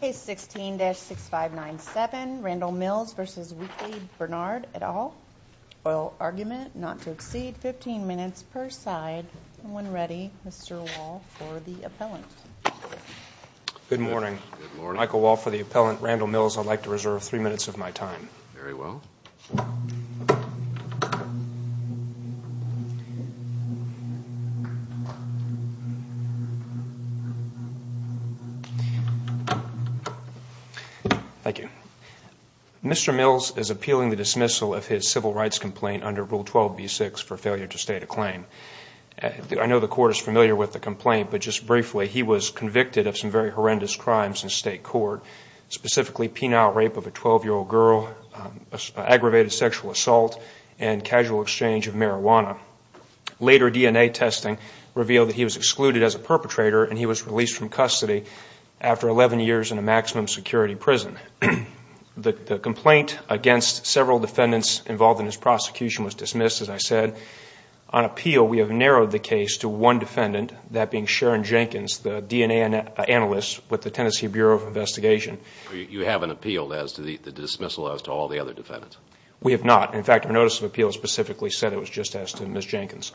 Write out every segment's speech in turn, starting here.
Case 16-6597, Randall Mills v. Weakley Barnard, et al. Oil argument not to exceed 15 minutes per side. When ready, Mr. Wall for the appellant. Good morning. Michael Wall for the appellant. Randall Mills, I'd like to reserve three minutes of my time. Very well. Thank you. Mr. Mills is appealing the dismissal of his civil rights complaint under Rule 12b-6 for failure to state a claim. I know the court is familiar with the complaint, but just briefly, he was convicted of some very horrendous crimes in state court, specifically penile rape of a 12-year-old girl, aggravated sexual assault, and casual exchange of marijuana. Later DNA testing revealed that he was excluded as a perpetrator and he was released from custody after 11 years in a maximum security prison. The complaint against several defendants involved in his prosecution was dismissed, as I said. On appeal, we have narrowed the case to one defendant, that being Sharon Jenkins, the DNA analyst with the Tennessee Bureau of Investigation. You haven't appealed the dismissal as to all the other defendants? We have not. In fact, our notice of appeal specifically said it was just as to Ms. Jenkins.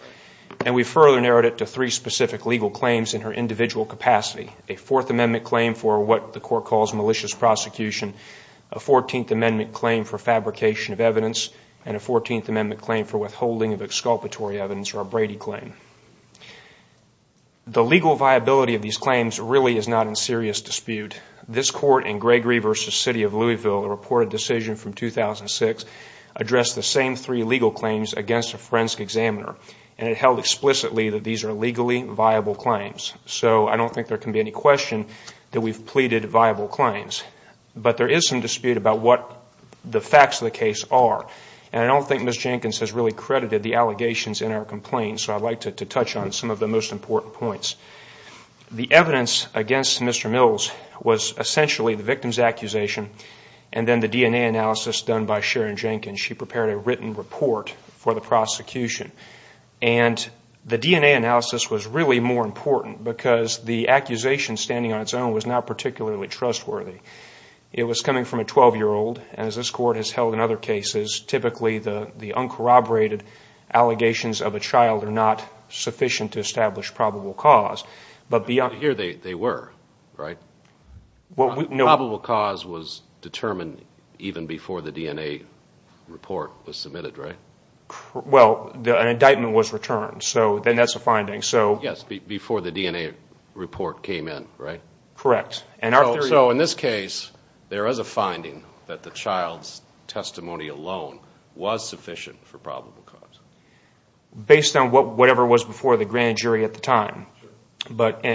And we further narrowed it to three specific legal claims in her individual capacity. A Fourth Amendment claim for what the court calls malicious prosecution, a 14th Amendment claim for fabrication of evidence, and a 14th Amendment claim for withholding of exculpatory evidence, or a Brady claim. The legal viability of these claims really is not in serious dispute. This court in Gregory v. City of Louisville, a reported decision from 2006, addressed the same three legal claims against a forensic examiner. And it held explicitly that these are legally viable claims. So I don't think there can be any question that we've pleaded viable claims. But there is some dispute about what the facts of the case are. And I don't think Ms. Jenkins has really credited the allegations in our complaint, so I'd like to touch on some of the most important points. The evidence against Mr. Mills was essentially the victim's accusation and then the DNA analysis done by Sharon Jenkins. She prepared a written report for the prosecution. And the DNA analysis was really more important because the accusation standing on its own was not particularly trustworthy. It was coming from a 12-year-old, and as this court has held in other cases, typically the uncorroborated allegations of a child are not sufficient to establish probable cause. Here they were, right? Probable cause was determined even before the DNA report was submitted, right? Well, an indictment was returned, so then that's a finding. Yes, before the DNA report came in, right? Correct. So in this case, there is a finding that the child's testimony alone was sufficient for probable cause? Based on whatever was before the grand jury at the time. But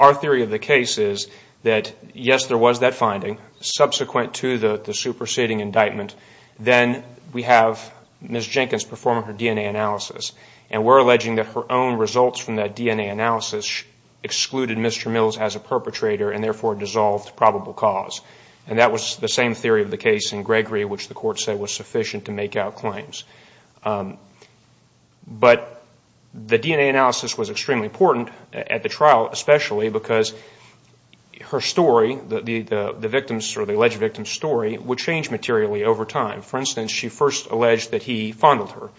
our theory of the case is that, yes, there was that finding. Subsequent to the superseding indictment, then we have Ms. Jenkins performing her DNA analysis. And we're alleging that her own results from that DNA analysis excluded Mr. Mills as a perpetrator and therefore dissolved probable cause. And that was the same theory of the case in Gregory, which the court said was sufficient to make out claims. But the DNA analysis was extremely important at the trial, especially because her story, the alleged victim's story, would change materially over time. For instance, she first alleged that he fondled her.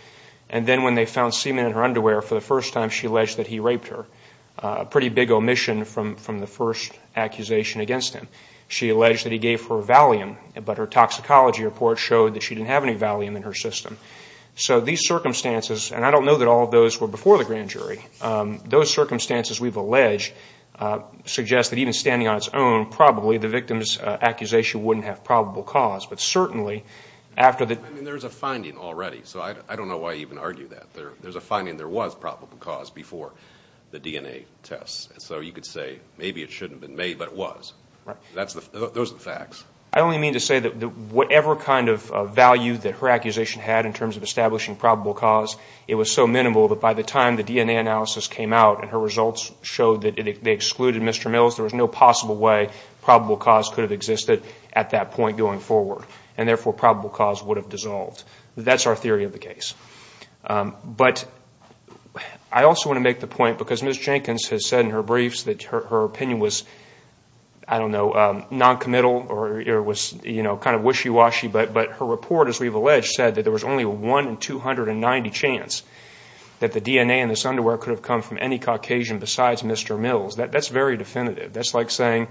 And then when they found semen in her underwear for the first time, she alleged that he raped her. A pretty big omission from the first accusation against him. She alleged that he gave her Valium, but her toxicology report showed that she didn't have any Valium in her system. So these circumstances, and I don't know that all of those were before the grand jury, those circumstances we've alleged suggest that even standing on its own, probably the victim's accusation wouldn't have probable cause. I mean, there's a finding already, so I don't know why you would argue that. There's a finding there was probable cause before the DNA tests. So you could say maybe it shouldn't have been made, but it was. Those are the facts. I only mean to say that whatever kind of value that her accusation had in terms of establishing probable cause, it was so minimal that by the time the DNA analysis came out and her results showed that they excluded Mr. Mills, there was no possible way probable cause could have existed at that point going forward. And therefore probable cause would have dissolved. That's our theory of the case. But I also want to make the point, because Ms. Jenkins has said in her briefs that her opinion was, I don't know, noncommittal or was kind of wishy-washy, but her report, as we've alleged, said that there was only a 1 in 290 chance that the DNA in this underwear could have come from any Caucasian besides Mr. Mills. That's very definitive. That's like saying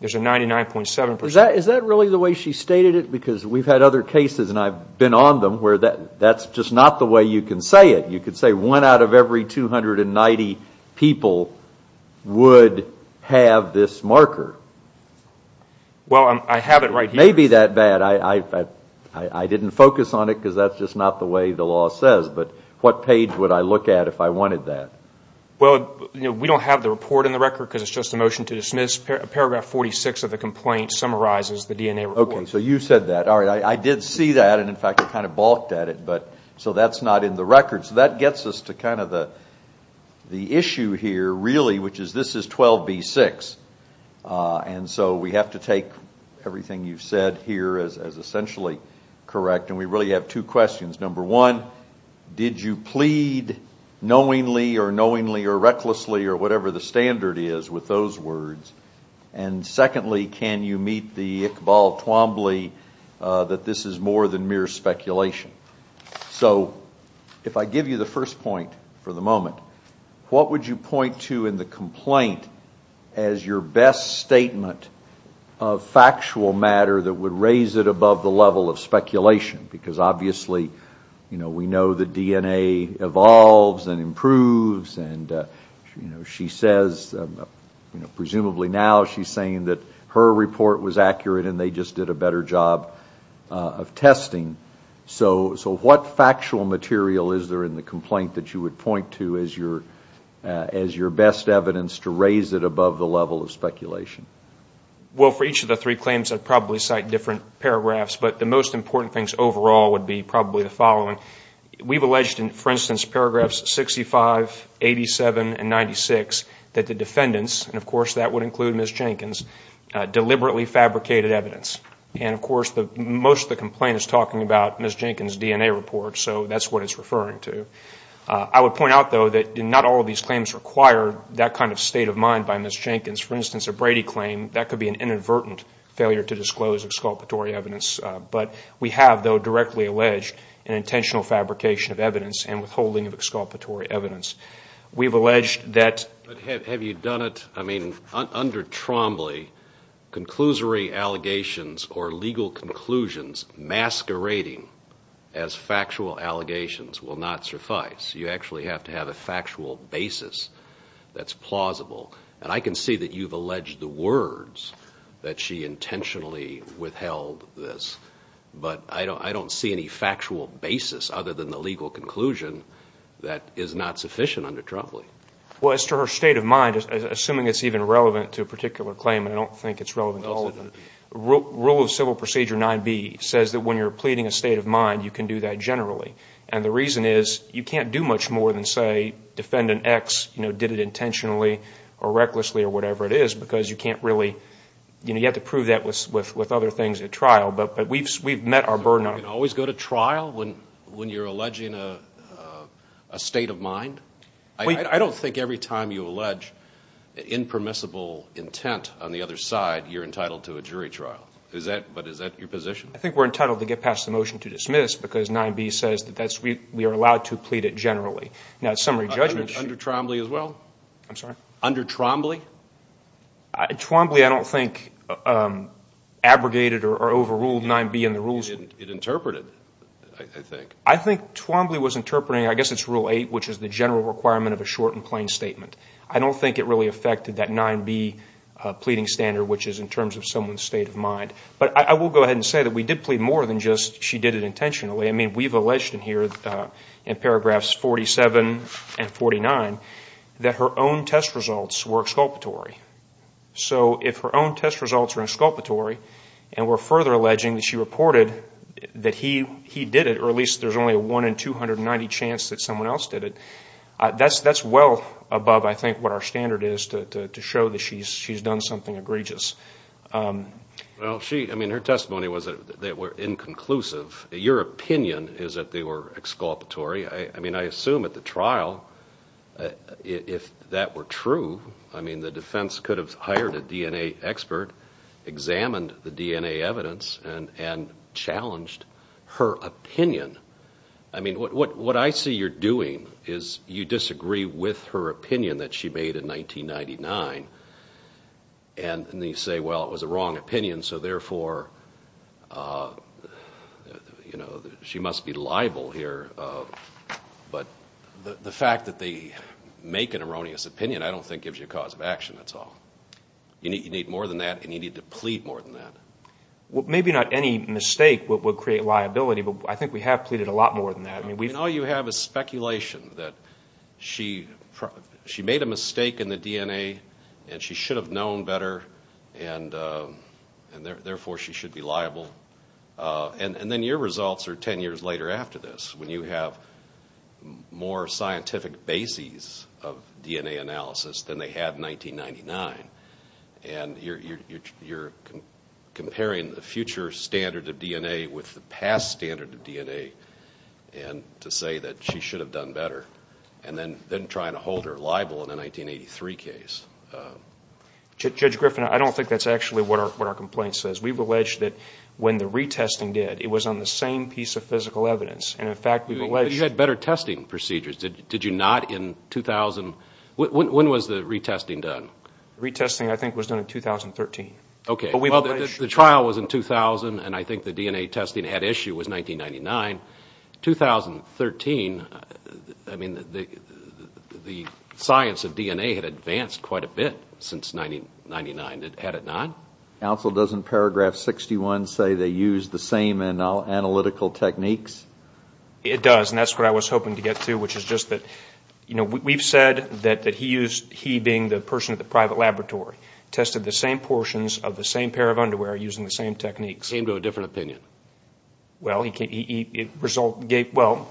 there's a 99.7% chance. Is that really the way she stated it? Because we've had other cases, and I've been on them, where that's just not the way you can say it. You could say one out of every 290 people would have this marker. Well, I have it right here. It may be that bad. I didn't focus on it because that's just not the way the law says. But what page would I look at if I wanted that? Well, we don't have the report in the record because it's just a motion to dismiss. Paragraph 46 of the complaint summarizes the DNA report. Okay, so you said that. I did see that, and in fact I kind of balked at it. So that's not in the record. So that gets us to kind of the issue here, really, which is this is 12B6. And so we have to take everything you've said here as essentially correct. And we really have two questions. Number one, did you plead knowingly or knowingly or recklessly or whatever the standard is with those words? And secondly, can you meet the Iqbal Twombly that this is more than mere speculation? So if I give you the first point for the moment, what would you point to in the complaint as your best statement of factual matter that would raise it above the level of speculation? Because obviously we know that DNA evolves and improves. And she says, presumably now she's saying that her report was accurate and they just did a better job of testing. So what factual material is there in the complaint that you would point to as your best evidence to raise it above the level of speculation? Well, for each of the three claims, I'd probably cite different paragraphs. But the most important things overall would be probably the following. We've alleged in, for instance, paragraphs 65, 87 and 96 that the defendants, and of course that would include Ms. Jenkins, deliberately fabricated evidence. And of course most of the complaint is talking about Ms. Jenkins' DNA report, so that's what it's referring to. I would point out, though, that not all of these claims require that kind of state of mind by Ms. Jenkins. For instance, a Brady claim, that could be an inadvertent failure to disclose exculpatory evidence. But we have, though, directly alleged an intentional fabrication of evidence and withholding of exculpatory evidence. But have you done it? I mean, under Trombley, conclusory allegations or legal conclusions masquerading as factual allegations will not suffice. You actually have to have a factual basis that's plausible. And I can see that you've alleged the words that she intentionally withheld this. But I don't see any factual basis other than the legal conclusion that is not sufficient under Trombley. Well, as to her state of mind, assuming it's even relevant to a particular claim, and I don't think it's relevant to all of them, Rule of Civil Procedure 9b says that when you're pleading a state of mind, you can do that generally. And the reason is, you can't do much more than, say, defend an ex, you know, did it intentionally or recklessly or whatever it is, because you can't really, you know, you have to prove that with other things at trial. But we've met our burden. So you can always go to trial when you're alleging a state of mind? I don't think every time you allege impermissible intent on the other side, you're entitled to a jury trial. Is that, but is that your position? I think we're entitled to get past the motion to dismiss because 9b says that we are allowed to plead it generally. Under Trombley as well? Under Trombley? Trombley I don't think abrogated or overruled 9b in the rules. It interpreted, I think. I think Trombley was interpreting, I guess it's Rule 8, which is the general requirement of a short and plain statement. I don't think it really affected that 9b pleading standard, which is in terms of someone's state of mind. But I will go ahead and say that we did plead more than just she did it intentionally. I mean, we've alleged in here, in paragraphs 47 and 49, that her own test results were exculpatory. So if her own test results are exculpatory and we're further alleging that she reported that he did it, or at least there's only a 1 in 290 chance that someone else did it, that's well above, I think, what our standard is to show that she's done something egregious. Well, I mean, her testimony was that they were inconclusive. Your opinion is that they were exculpatory. I mean, I assume at the trial, if that were true, I mean, the defense could have hired a DNA expert, examined the DNA evidence, and challenged her opinion. I mean, what I see you're doing is you disagree with her opinion that she made in 1999, and then you say, well, it was a wrong opinion, so therefore, you know, she must be liable here. But the fact that they make an erroneous opinion I don't think gives you a cause of action, that's all. You need more than that, and you need to plead more than that. Well, maybe not any mistake would create liability, but I think we have pleaded a lot more than that. I mean, all you have is speculation that she made a mistake in the DNA, and she should have known better, and therefore, she should be liable. And then your results are 10 years later after this, when you have more scientific bases of DNA analysis than they had in 1999, and you're comparing the future standard of DNA with the past standard of DNA, and to say that she should have done better, and then trying to hold her liable in a 1983 case. Judge Griffin, I don't think that's actually what our complaint says. We've alleged that when the retesting did, it was on the same piece of physical evidence. You had better testing procedures. Did you not in 2000? When was the retesting done? Retesting, I think, was done in 2013. Okay. Well, the trial was in 2000, and I think the DNA testing had issue was 1999. 2013, I mean, the science of DNA had advanced quite a bit since 1999, had it not? Counsel, doesn't paragraph 61 say they used the same analytical techniques? It does, and that's what I was hoping to get to, which is private laboratory tested the same portions of the same pair of underwear using the same techniques. Came to a different opinion. Well, I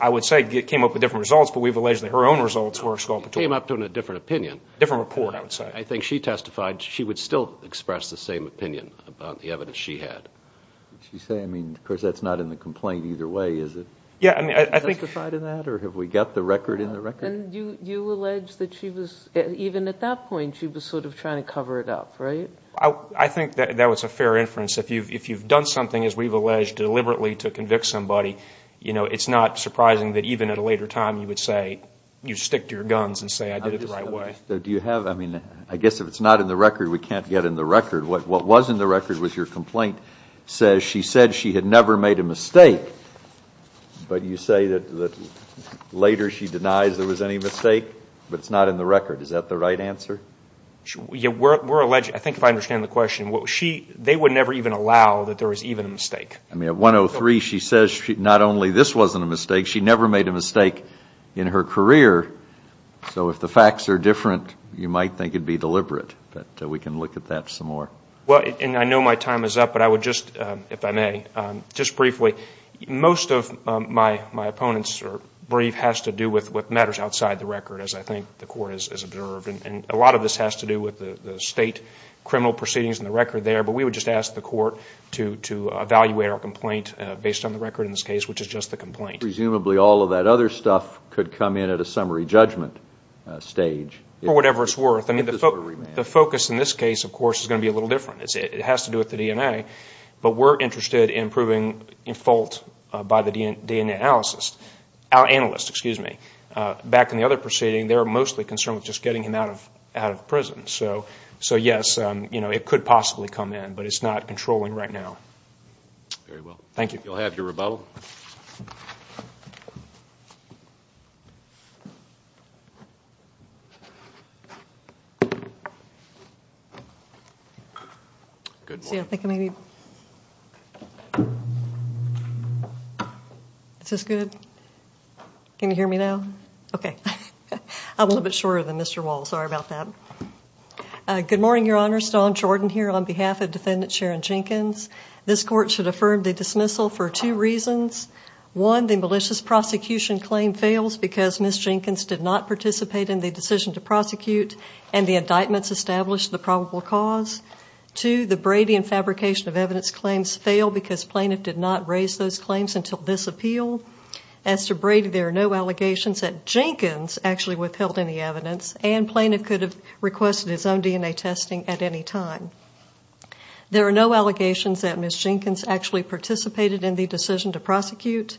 would say it came up with different results, but we've alleged that her own results were scalpatorial. Came up to a different opinion. I think she testified, she would still express the same opinion about the evidence she had. Did she say, I mean, of course that's not in the complaint either way, is it? Testified in that, or have we got the record in the record? You allege that she was, even at that point, she was sort of trying to cover it up, right? I think that was a fair inference. If you've done something, as we've alleged, deliberately to convict somebody, it's not surprising that even at a later time you would say, you stick to your guns and say I did it the right way. Do you have, I mean, I guess if it's not in the record, we can't get in the record. What was in the record was your complaint says she said she had never made a mistake, but you say that later she denies there was any mistake, but it's not in the record. Is that the right answer? I think if I understand the question, they would never even allow that there was even a mistake. I mean, at 103 she says not only this wasn't a mistake, she never made a mistake in her career. So if the facts are different, you might think it would be deliberate. But we can look at that some more. Well, and I know my time is up, but I would just, if I may, just briefly, most of my opponents' brief has to do with matters outside the record, as I think the Court has observed. And a lot of this has to do with the state criminal proceedings in the record there. But we would just ask the Court to evaluate our complaint based on the record in this case, which is just the complaint. Presumably all of that other stuff could come in at a summary judgment stage. For whatever it's worth. I mean, the focus in this case, of course, is going to be a little different. It has to do with the DNA, but we're interested in proving fault by the DNA analysis. Back in the other proceeding, they were mostly concerned with just getting him out of prison. So yes, it could possibly come in, but it's not controlling right now. Very well. Thank you. You'll have your rebuttal. Thank you. Is this good? Can you hear me now? Okay. I'm a little bit shorter than Mr. Wall. Sorry about that. Good morning, Your Honor. Stone Jordan here on behalf of Defendant Sharon Jenkins. This Court should affirm the dismissal for two reasons. One, the malicious prosecution claim fails because Ms. Jenkins did not participate in the decision to prosecute and the indictments established the probable cause. Two, the Brady and fabrication of evidence claims fail because plaintiff did not raise those claims until this appeal. As to Brady, there are no allegations that Jenkins actually withheld any evidence and plaintiff could have requested his own DNA testing at any time. There are no allegations that Ms. Jenkins actually participated in the decision to prosecute.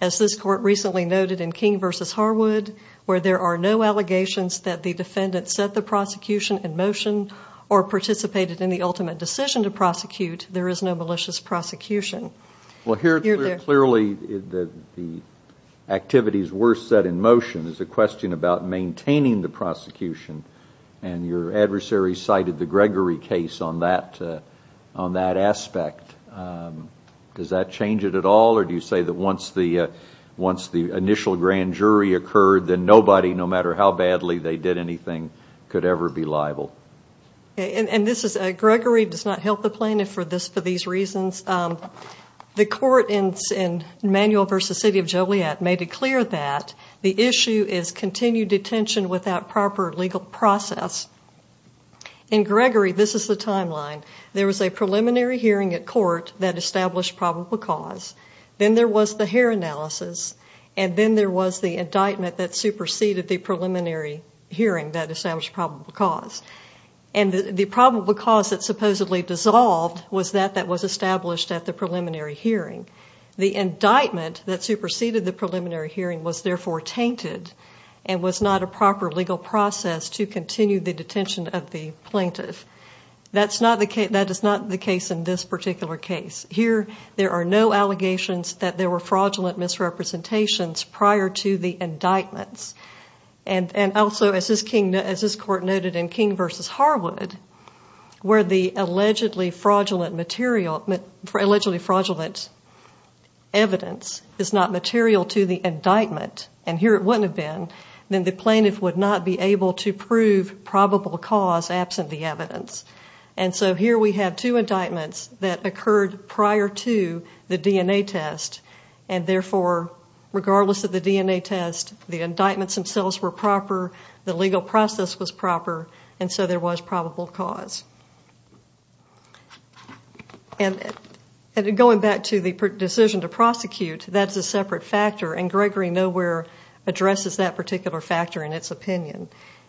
As this Court recently noted in King v. Harwood, where there are no allegations that the defendant set the prosecution in motion or participated in the ultimate decision to prosecute, there is no malicious prosecution. Well, here clearly the activities were set in motion. There's a question about maintaining the prosecution and your adversary cited the Gregory case on that aspect. Does that change it at all or do you say that once the initial grand jury occurred, then nobody, no matter how badly they did anything, could ever be liable? Gregory does not help the plaintiff for these reasons. The court in Manuel v. City of Joliet made it clear that the issue is continued detention without proper legal process. In Gregory, this is the timeline. There was a preliminary hearing at court that established probable cause. Then there was the hair analysis and then there was the indictment that superseded the preliminary hearing that established probable cause. And the probable cause that supposedly dissolved was that that was established at the preliminary hearing. The indictment that superseded the preliminary hearing was therefore tainted and was not a proper legal process to continue the detention of the plaintiff. That is not the case in this particular case. Here there are no allegations that there were fraudulent misrepresentations prior to the indictments. And also, as this court noted in King v. Harwood, where the allegedly fraudulent evidence is not material to the indictment, and here it wouldn't have been, then the plaintiff would not be able to prove probable cause absent the evidence. And so here we have two indictments that occurred prior to the DNA test, and therefore, regardless of the DNA test, the indictments themselves were proper, the legal process was proper, and so there was probable cause. Going back to the decision to prosecute, that's a separate factor, and Gregory Nowhere addresses that particular factor in its opinion.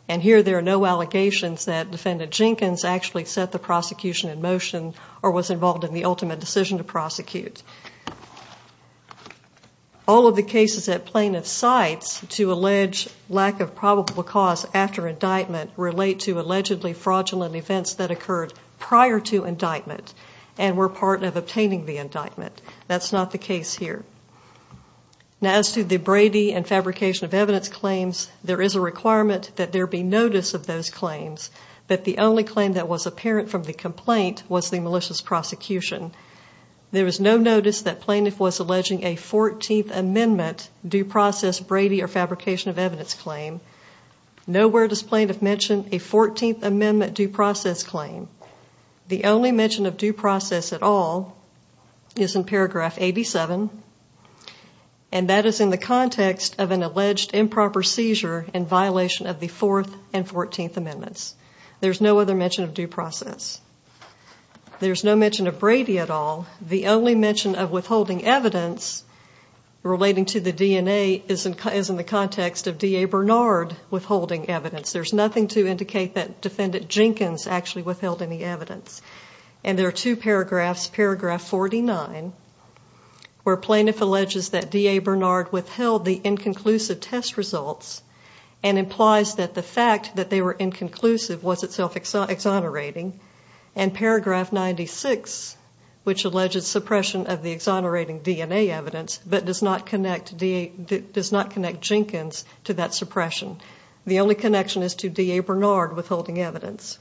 And here there are no allegations that Defendant Jenkins actually set the prosecution in motion or was involved in the ultimate decision to prosecute. All of the cases that plaintiffs cite to allege lack of probable cause after indictment relate to allegedly fraudulent events that occurred prior to indictment and were part of obtaining the indictment. That's not the case here. Now, as to the Brady and fabrication of evidence claims, there is a requirement that there be notice of those claims, but the only claim that was apparent from the complaint was the malicious prosecution. There was no notice that plaintiff was alleging a 14th Amendment due process Brady or fabrication of evidence claim. Nowhere does plaintiff mention a 14th Amendment due process claim. The only mention of due process at all is in paragraph 87, and that is in the context of an alleged improper seizure in violation of the 4th and 14th Amendments. There's no other mention of due process. There's no mention of Brady at all. The only mention of withholding evidence relating to the DNA is in the context of D.A. Bernard withholding evidence. There's nothing to indicate that defendant Jenkins actually withheld any evidence. And there are two paragraphs, paragraph 49, where plaintiff alleges that D.A. Bernard withheld the inconclusive test results and implies that the fact that they were inconclusive was itself exonerating, and paragraph 96, which alleges suppression of the exonerating DNA evidence, but does not connect Jenkins to that suppression. The only connection is to D.A. Bernard withholding evidence.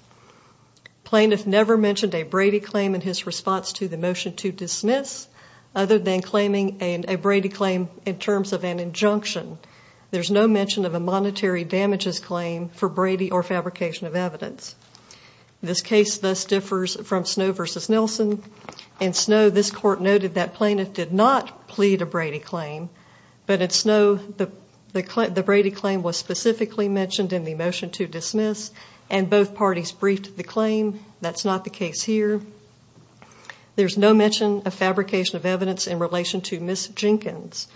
Plaintiff never mentioned a Brady claim in his response to the motion to dismiss, other than claiming a Brady claim in terms of an injunction. There's no mention of a monetary damages claim for Brady or fabrication of evidence. This case thus differs from Snow v. Nelson. In Snow, this court noted that plaintiff did not plead a Brady claim, but in Snow, the Brady claim was specifically mentioned in the motion to dismiss, and both parties briefed the claim. That's not the case here. There's no mention of fabrication of evidence in relation to Ms. Jenkins.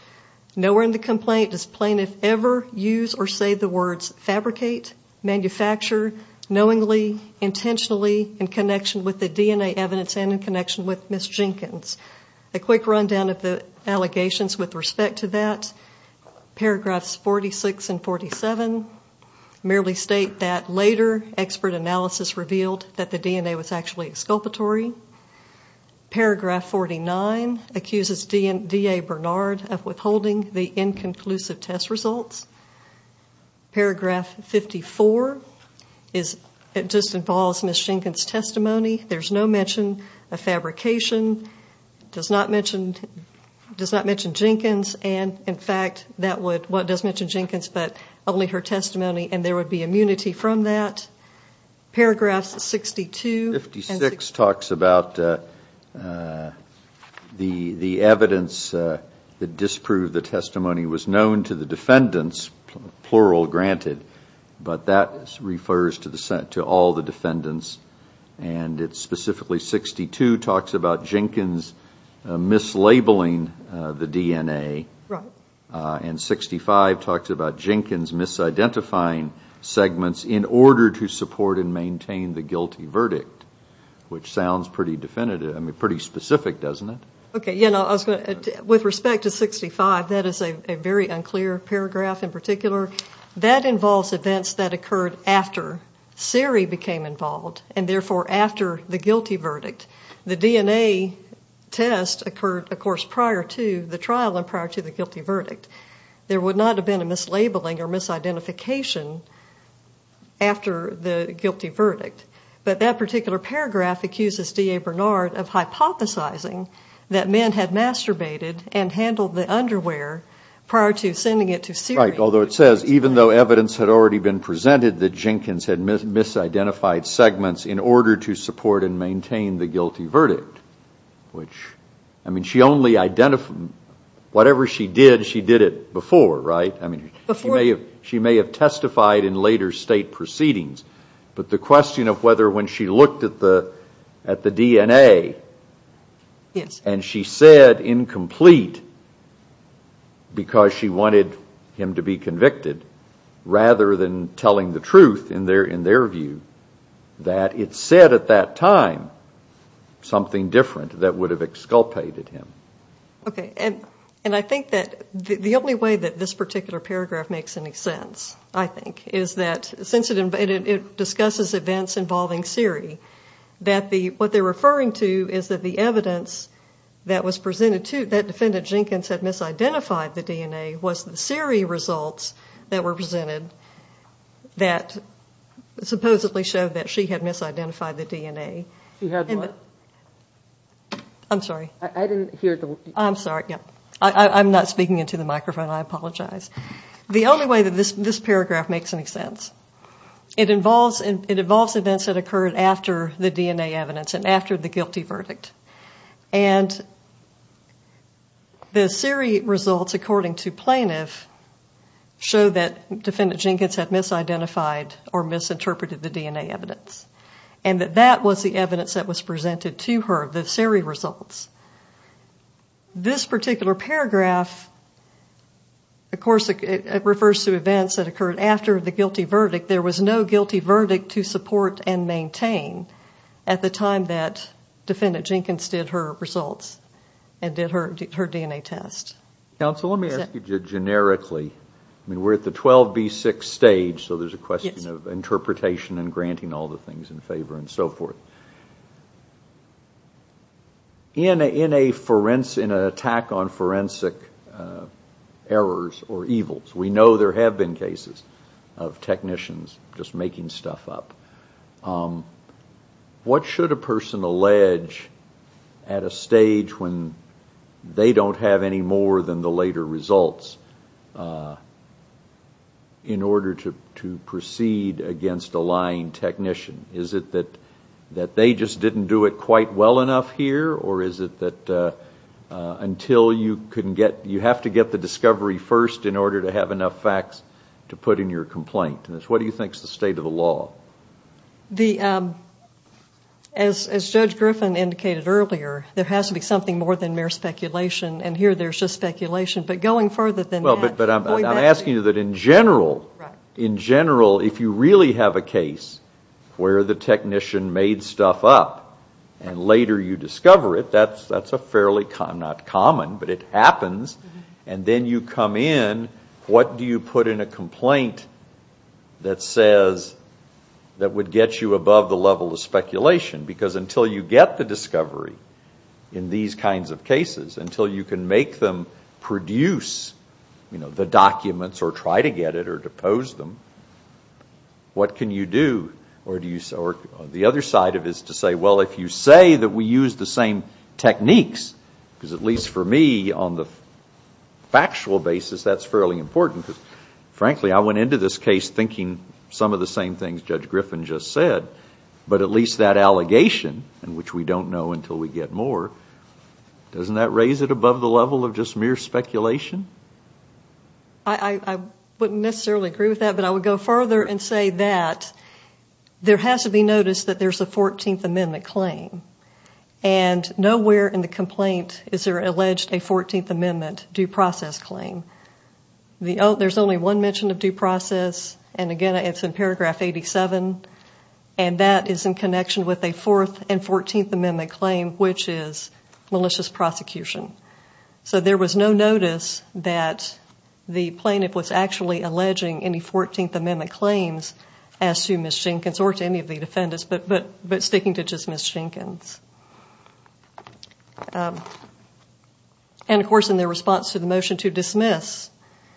Nowhere in the complaint does plaintiff ever use or say the words fabricate, manufacture, knowingly, intentionally, in connection with the D.A. evidence and in connection with Ms. Jenkins. A quick rundown of the allegations with respect to that. Paragraphs 46 and 47 merely state that later expert analysis revealed that the DNA was actually exculpatory. Paragraph 49 accuses D.A. Bernard of withholding the inconclusive test results. Paragraph 54 just involves Ms. Jenkins' testimony. There's no mention of fabrication. It does not mention Jenkins, but only her testimony, and there would be immunity from that. Paragraphs 62 and 56 talks about the evidence that disproved the testimony. It was known to the defendants, plural granted, but that refers to all the defendants. Specifically 62 talks about Jenkins mislabeling the DNA, and 65 talks about Jenkins misidentifying segments in order to support and maintain the guilty verdict, which sounds pretty specific, doesn't it? With respect to 65, that is a very unclear paragraph in particular. That involves events that occurred after Siri became involved, and therefore after the guilty verdict. The DNA test occurred, of course, prior to the trial and prior to the guilty verdict. There would not have been a mislabeling or misidentification after the guilty verdict, but that particular paragraph accuses D.A. Bernard of hypothesizing that men had masturbated and handled the underwear prior to sending it to Siri. Right, although it says even though evidence had already been presented that Jenkins had misidentified segments in order to support and maintain the guilty verdict, which, I mean, she only identified, whatever she did, she did it before, right? She may have testified in later state proceedings, but the question of whether when she looked at the DNA, and she said incomplete because she wanted him to be convicted, rather than telling the truth in their view, that it said at that time something different that would have exculpated him. Okay, and I think that the only way that this particular paragraph makes any sense, I think, is that since it discusses events involving Siri, that what they're referring to is that the evidence that was presented to, that defendant Jenkins had misidentified the DNA was the Siri results that were presented that supposedly showed that she had misidentified the DNA. She had what? I'm sorry, I'm not speaking into the microphone, I apologize. The only way that this paragraph makes any sense, it involves events that occurred after the DNA evidence and after the guilty verdict, and the Siri results, according to plaintiff, show that defendant Jenkins had misidentified or misinterpreted the DNA evidence, and that that was the evidence that was presented to her, the Siri results. This particular paragraph, of course, refers to events that occurred after the guilty verdict. There was no guilty verdict to support and maintain at the time that defendant Jenkins did her results and did her DNA test. Counsel, let me ask you generically. We're at the 12B6 stage, so there's a question of interpretation and granting all the things in favor and so forth. In an attack on forensic errors or evils, we know there have been cases of technicians just making stuff up. What should a person allege at a stage when they don't have any more than the later results in order to proceed against a lying technician? Is it that they just didn't do it quite well enough here, or is it that you have to get the discovery first in order to have enough facts to put in your complaint? What do you think is the state of the law? As Judge Griffin indicated earlier, there has to be something more than mere speculation, and here there's just speculation. But going further than that... I'm asking you that in general, if you really have a case where the technician made stuff up and later you discover it, that's not common, but it happens, and then you come in, what do you put in a complaint that says it's just speculation, because until you get the discovery in these kinds of cases, until you can make them produce the documents or try to get it or depose them, what can you do? Or the other side of it is to say, well, if you say that we used the same techniques, because at least for me, on the factual basis, that's fairly important, because frankly, I went into this case thinking some of the same things Judge Griffin just said, but at least that allegation, which we don't know until we get more, doesn't that raise it above the level of just mere speculation? I wouldn't necessarily agree with that, but I would go further and say that there has to be notice that there's a 14th Amendment claim, and nowhere in the complaint is there alleged a 14th Amendment due process claim. There's only one mention of due process, and again, it's in paragraph 87, and that is in connection with a 4th and 14th Amendment claim, which is malicious prosecution. So there was no notice that the plaintiff was actually alleging any 14th Amendment claims as to Ms. Jenkins or to any of the defendants, but sticking to just Ms. Jenkins. And of course, in their response to the motion to dismiss,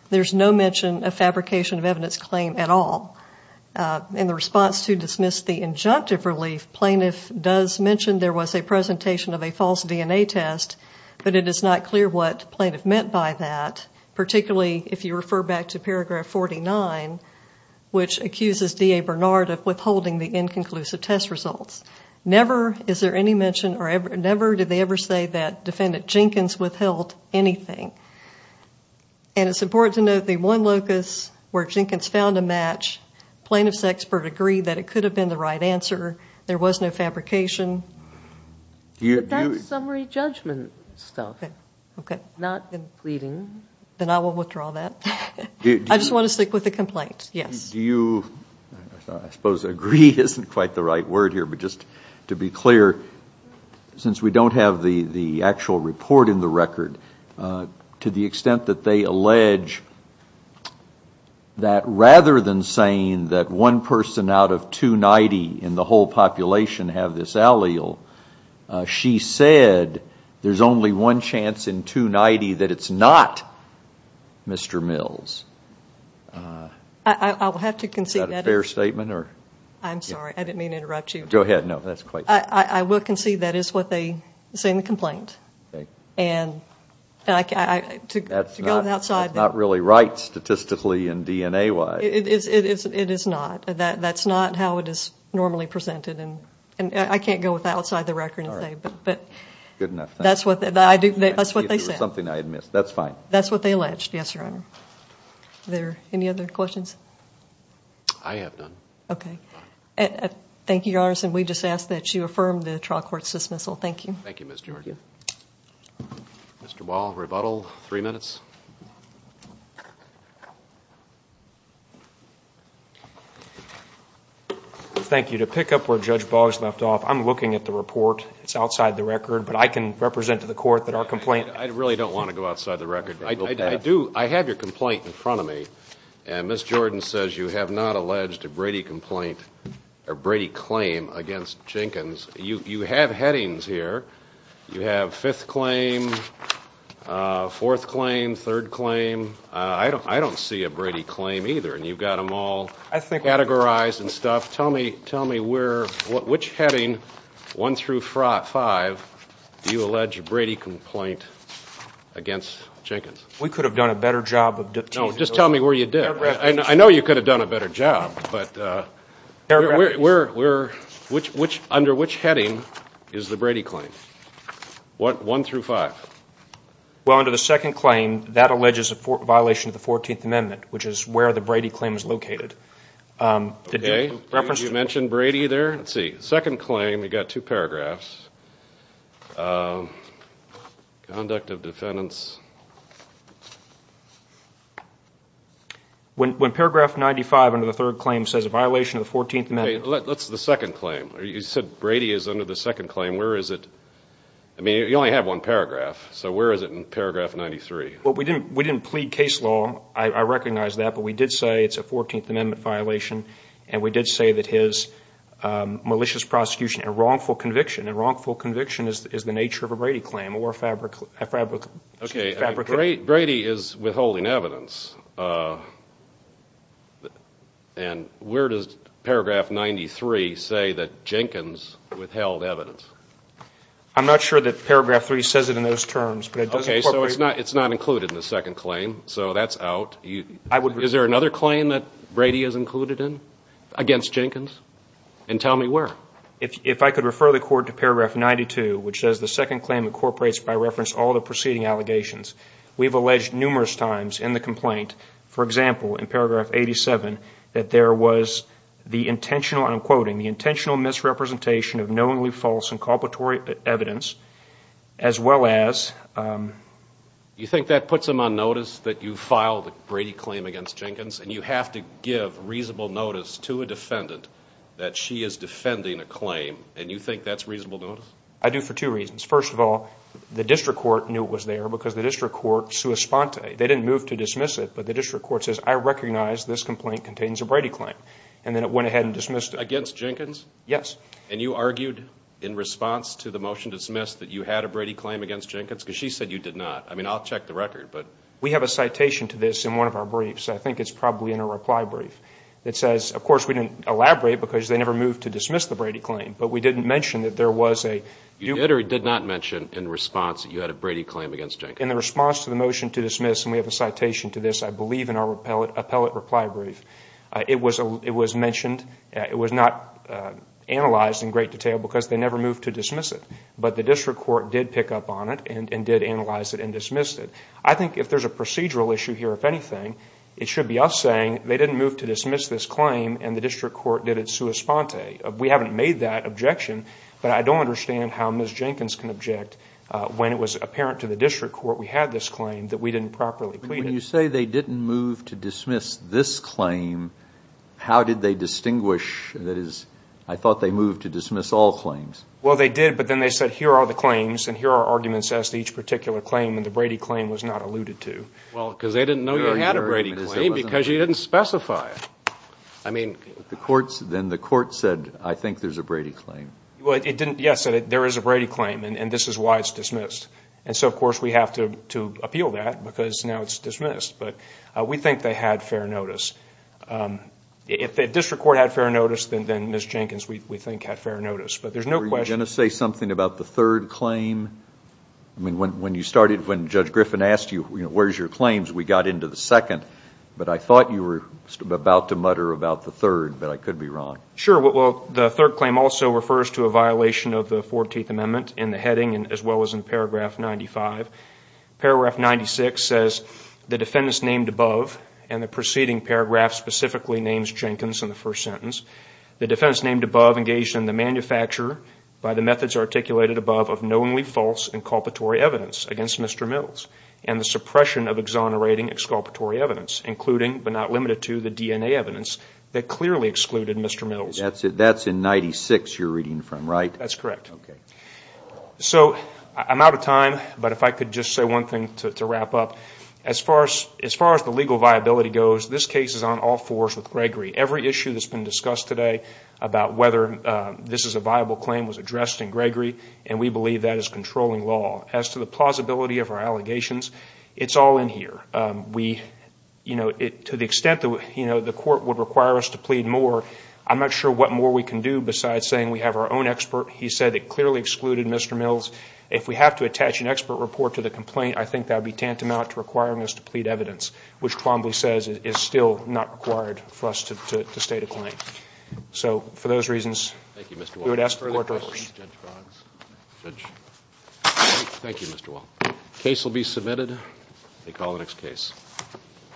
there's no mention of fabrication of evidence claim at all. In the response to dismiss the injunctive relief, plaintiff does mention there was a presentation of a false DNA test, but it is not clear what plaintiff meant by that, particularly if you refer back to paragraph 49, which accuses D.A. Bernard of withholding the inconclusive test results. Never is there any mention, or never did they ever say that defendant Jenkins withheld anything. And it's important to note the one locus where Jenkins found a match, plaintiff's expert agreed that it could have been the right answer, there was no fabrication. But that's summary judgment stuff. Okay. I suppose agree isn't quite the right word here, but just to be clear, since we don't have the actual report in the record, to the extent that they allege that rather than saying that one person out of 290 in the whole population have this allele, she said there's only one chance in 290 that it's not Mr. Mills. Is that a fair statement? I'm sorry, I didn't mean to interrupt you. I will concede that is what they say in the complaint. That's not really right statistically and D.N.A. wise. It is not. That's not how it is normally presented. I can't go outside the record and say, but that's what they said. That's what they alleged, yes, Your Honor. Any other questions? I have none. Thank you, Ms. George. Thank you. To pick up where Judge Boggs left off, I'm looking at the report. It's outside the record, but I can represent to the court that our complaint... Mr. Gordon says you have not alleged a Brady complaint or Brady claim against Jenkins. You have headings here. You have fifth claim, fourth claim, third claim. I don't see a Brady claim either, and you've got them all categorized and stuff. Tell me which heading, one through five, do you allege a Brady complaint against Jenkins? We could have done a better job of... No, just tell me where you did. I know you could have done a better job, but... Under which heading is the Brady claim? One through five. Well, under the second claim, that alleges a violation of the 14th Amendment, which is where the Brady claim is located. Did you mention Brady there? Second claim, you've got two paragraphs. Conduct of defendants... When paragraph 95 under the third claim says a violation of the 14th Amendment... That's the second claim. You said Brady is under the second claim. You only have one paragraph, so where is it in paragraph 93? We didn't plead case law. I recognize that. But we did say it's a 14th Amendment violation, and we did say that his malicious prosecution and wrongful conviction is the nature of a Brady claim. Brady is withholding evidence. And where does paragraph 93 say that Jenkins withheld evidence? I'm not sure that paragraph 3 says it in those terms, but it does incorporate... Okay, so it's not included in the second claim, so that's out. Is there another claim that Brady is included in against Jenkins? And tell me where. If I could refer the Court to paragraph 92, which says the second claim incorporates by reference all the preceding allegations. We've alleged numerous times in the complaint, for example, in paragraph 87, that there was the intentional misrepresentation of knowingly false and inculpatory evidence, as well as... You think that puts them on notice that you filed a Brady claim against Jenkins, and you have to give reasonable notice to a defendant that she is defending a claim, and you think that's reasonable notice? I do for two reasons. First of all, the District Court knew it was there because the District Court sua sponte. They didn't move to dismiss it, but the District Court says, I recognize this complaint contains a Brady claim. And then it went ahead and dismissed it. Against Jenkins? Yes. And you argued in response to the motion dismissed that you had a Brady claim against Jenkins? Because she said you did not. I mean, I'll check the record, but... We have a citation to this in one of our briefs. I think it's probably in a reply brief. It says, of course, we didn't elaborate because they never moved to dismiss the Brady claim, but we didn't mention that there was a... You did or did not mention in response that you had a Brady claim against Jenkins? In the response to the motion to dismiss, and we have a citation to this, I believe, in our appellate reply brief, it was mentioned, it was not analyzed in great detail because they never moved to dismiss it. But the District Court did pick up on it and did analyze it and dismissed it. I think if there's a procedural issue here, if anything, it should be us saying they didn't move to dismiss this claim and the District Court did it sua sponte. We haven't made that objection, but I don't understand how Ms. Jenkins can object when it was apparent to the District Court we had this claim that we didn't properly plead it. When you say they didn't move to dismiss this claim, how did they distinguish? That is, I thought they moved to dismiss all claims. Well, they did, but then they said, here are the claims and here are arguments as to each particular claim, and the Brady claim was not alluded to. Well, because they didn't know you had a Brady claim because you didn't specify it. I mean... Then the court said, I think there's a Brady claim. Yes, there is a Brady claim, and this is why it's dismissed. And so, of course, we have to appeal that because now it's dismissed. But we think they had fair notice. If the District Court had fair notice, then Ms. Jenkins, we think, had fair notice. But there's no question... Were you going to say something about the third claim? When Judge Griffin asked you, where's your claims, we got into the second, but I thought you were about to mutter about the third, but I could be wrong. Sure. Well, the third claim also refers to a violation of the 14th Amendment in the heading as well as in paragraph 95. Paragraph 96 says, That's in 96 you're reading from, right? That's correct. So, I'm out of time, but if I could just say one thing to wrap up. As far as the legal viability goes, this case is on all fours with Gregory. Every issue that's been discussed today about whether this is a viable claim was addressed in Gregory, and we believe that is controlling law. As to the plausibility of our allegations, it's all in here. To the extent that the court would require us to plead more, I'm not sure what more we can do besides saying we have our own expert. He said it clearly excluded Mr. Mills. If we have to attach an expert report to the complaint, I think that would be tantamount to requiring us to plead evidence, which Twombly says is still not required for us to state a claim. So, for those reasons... Thank you, Mr. Wall. Thank you, Mr. Wall. Case will be submitted.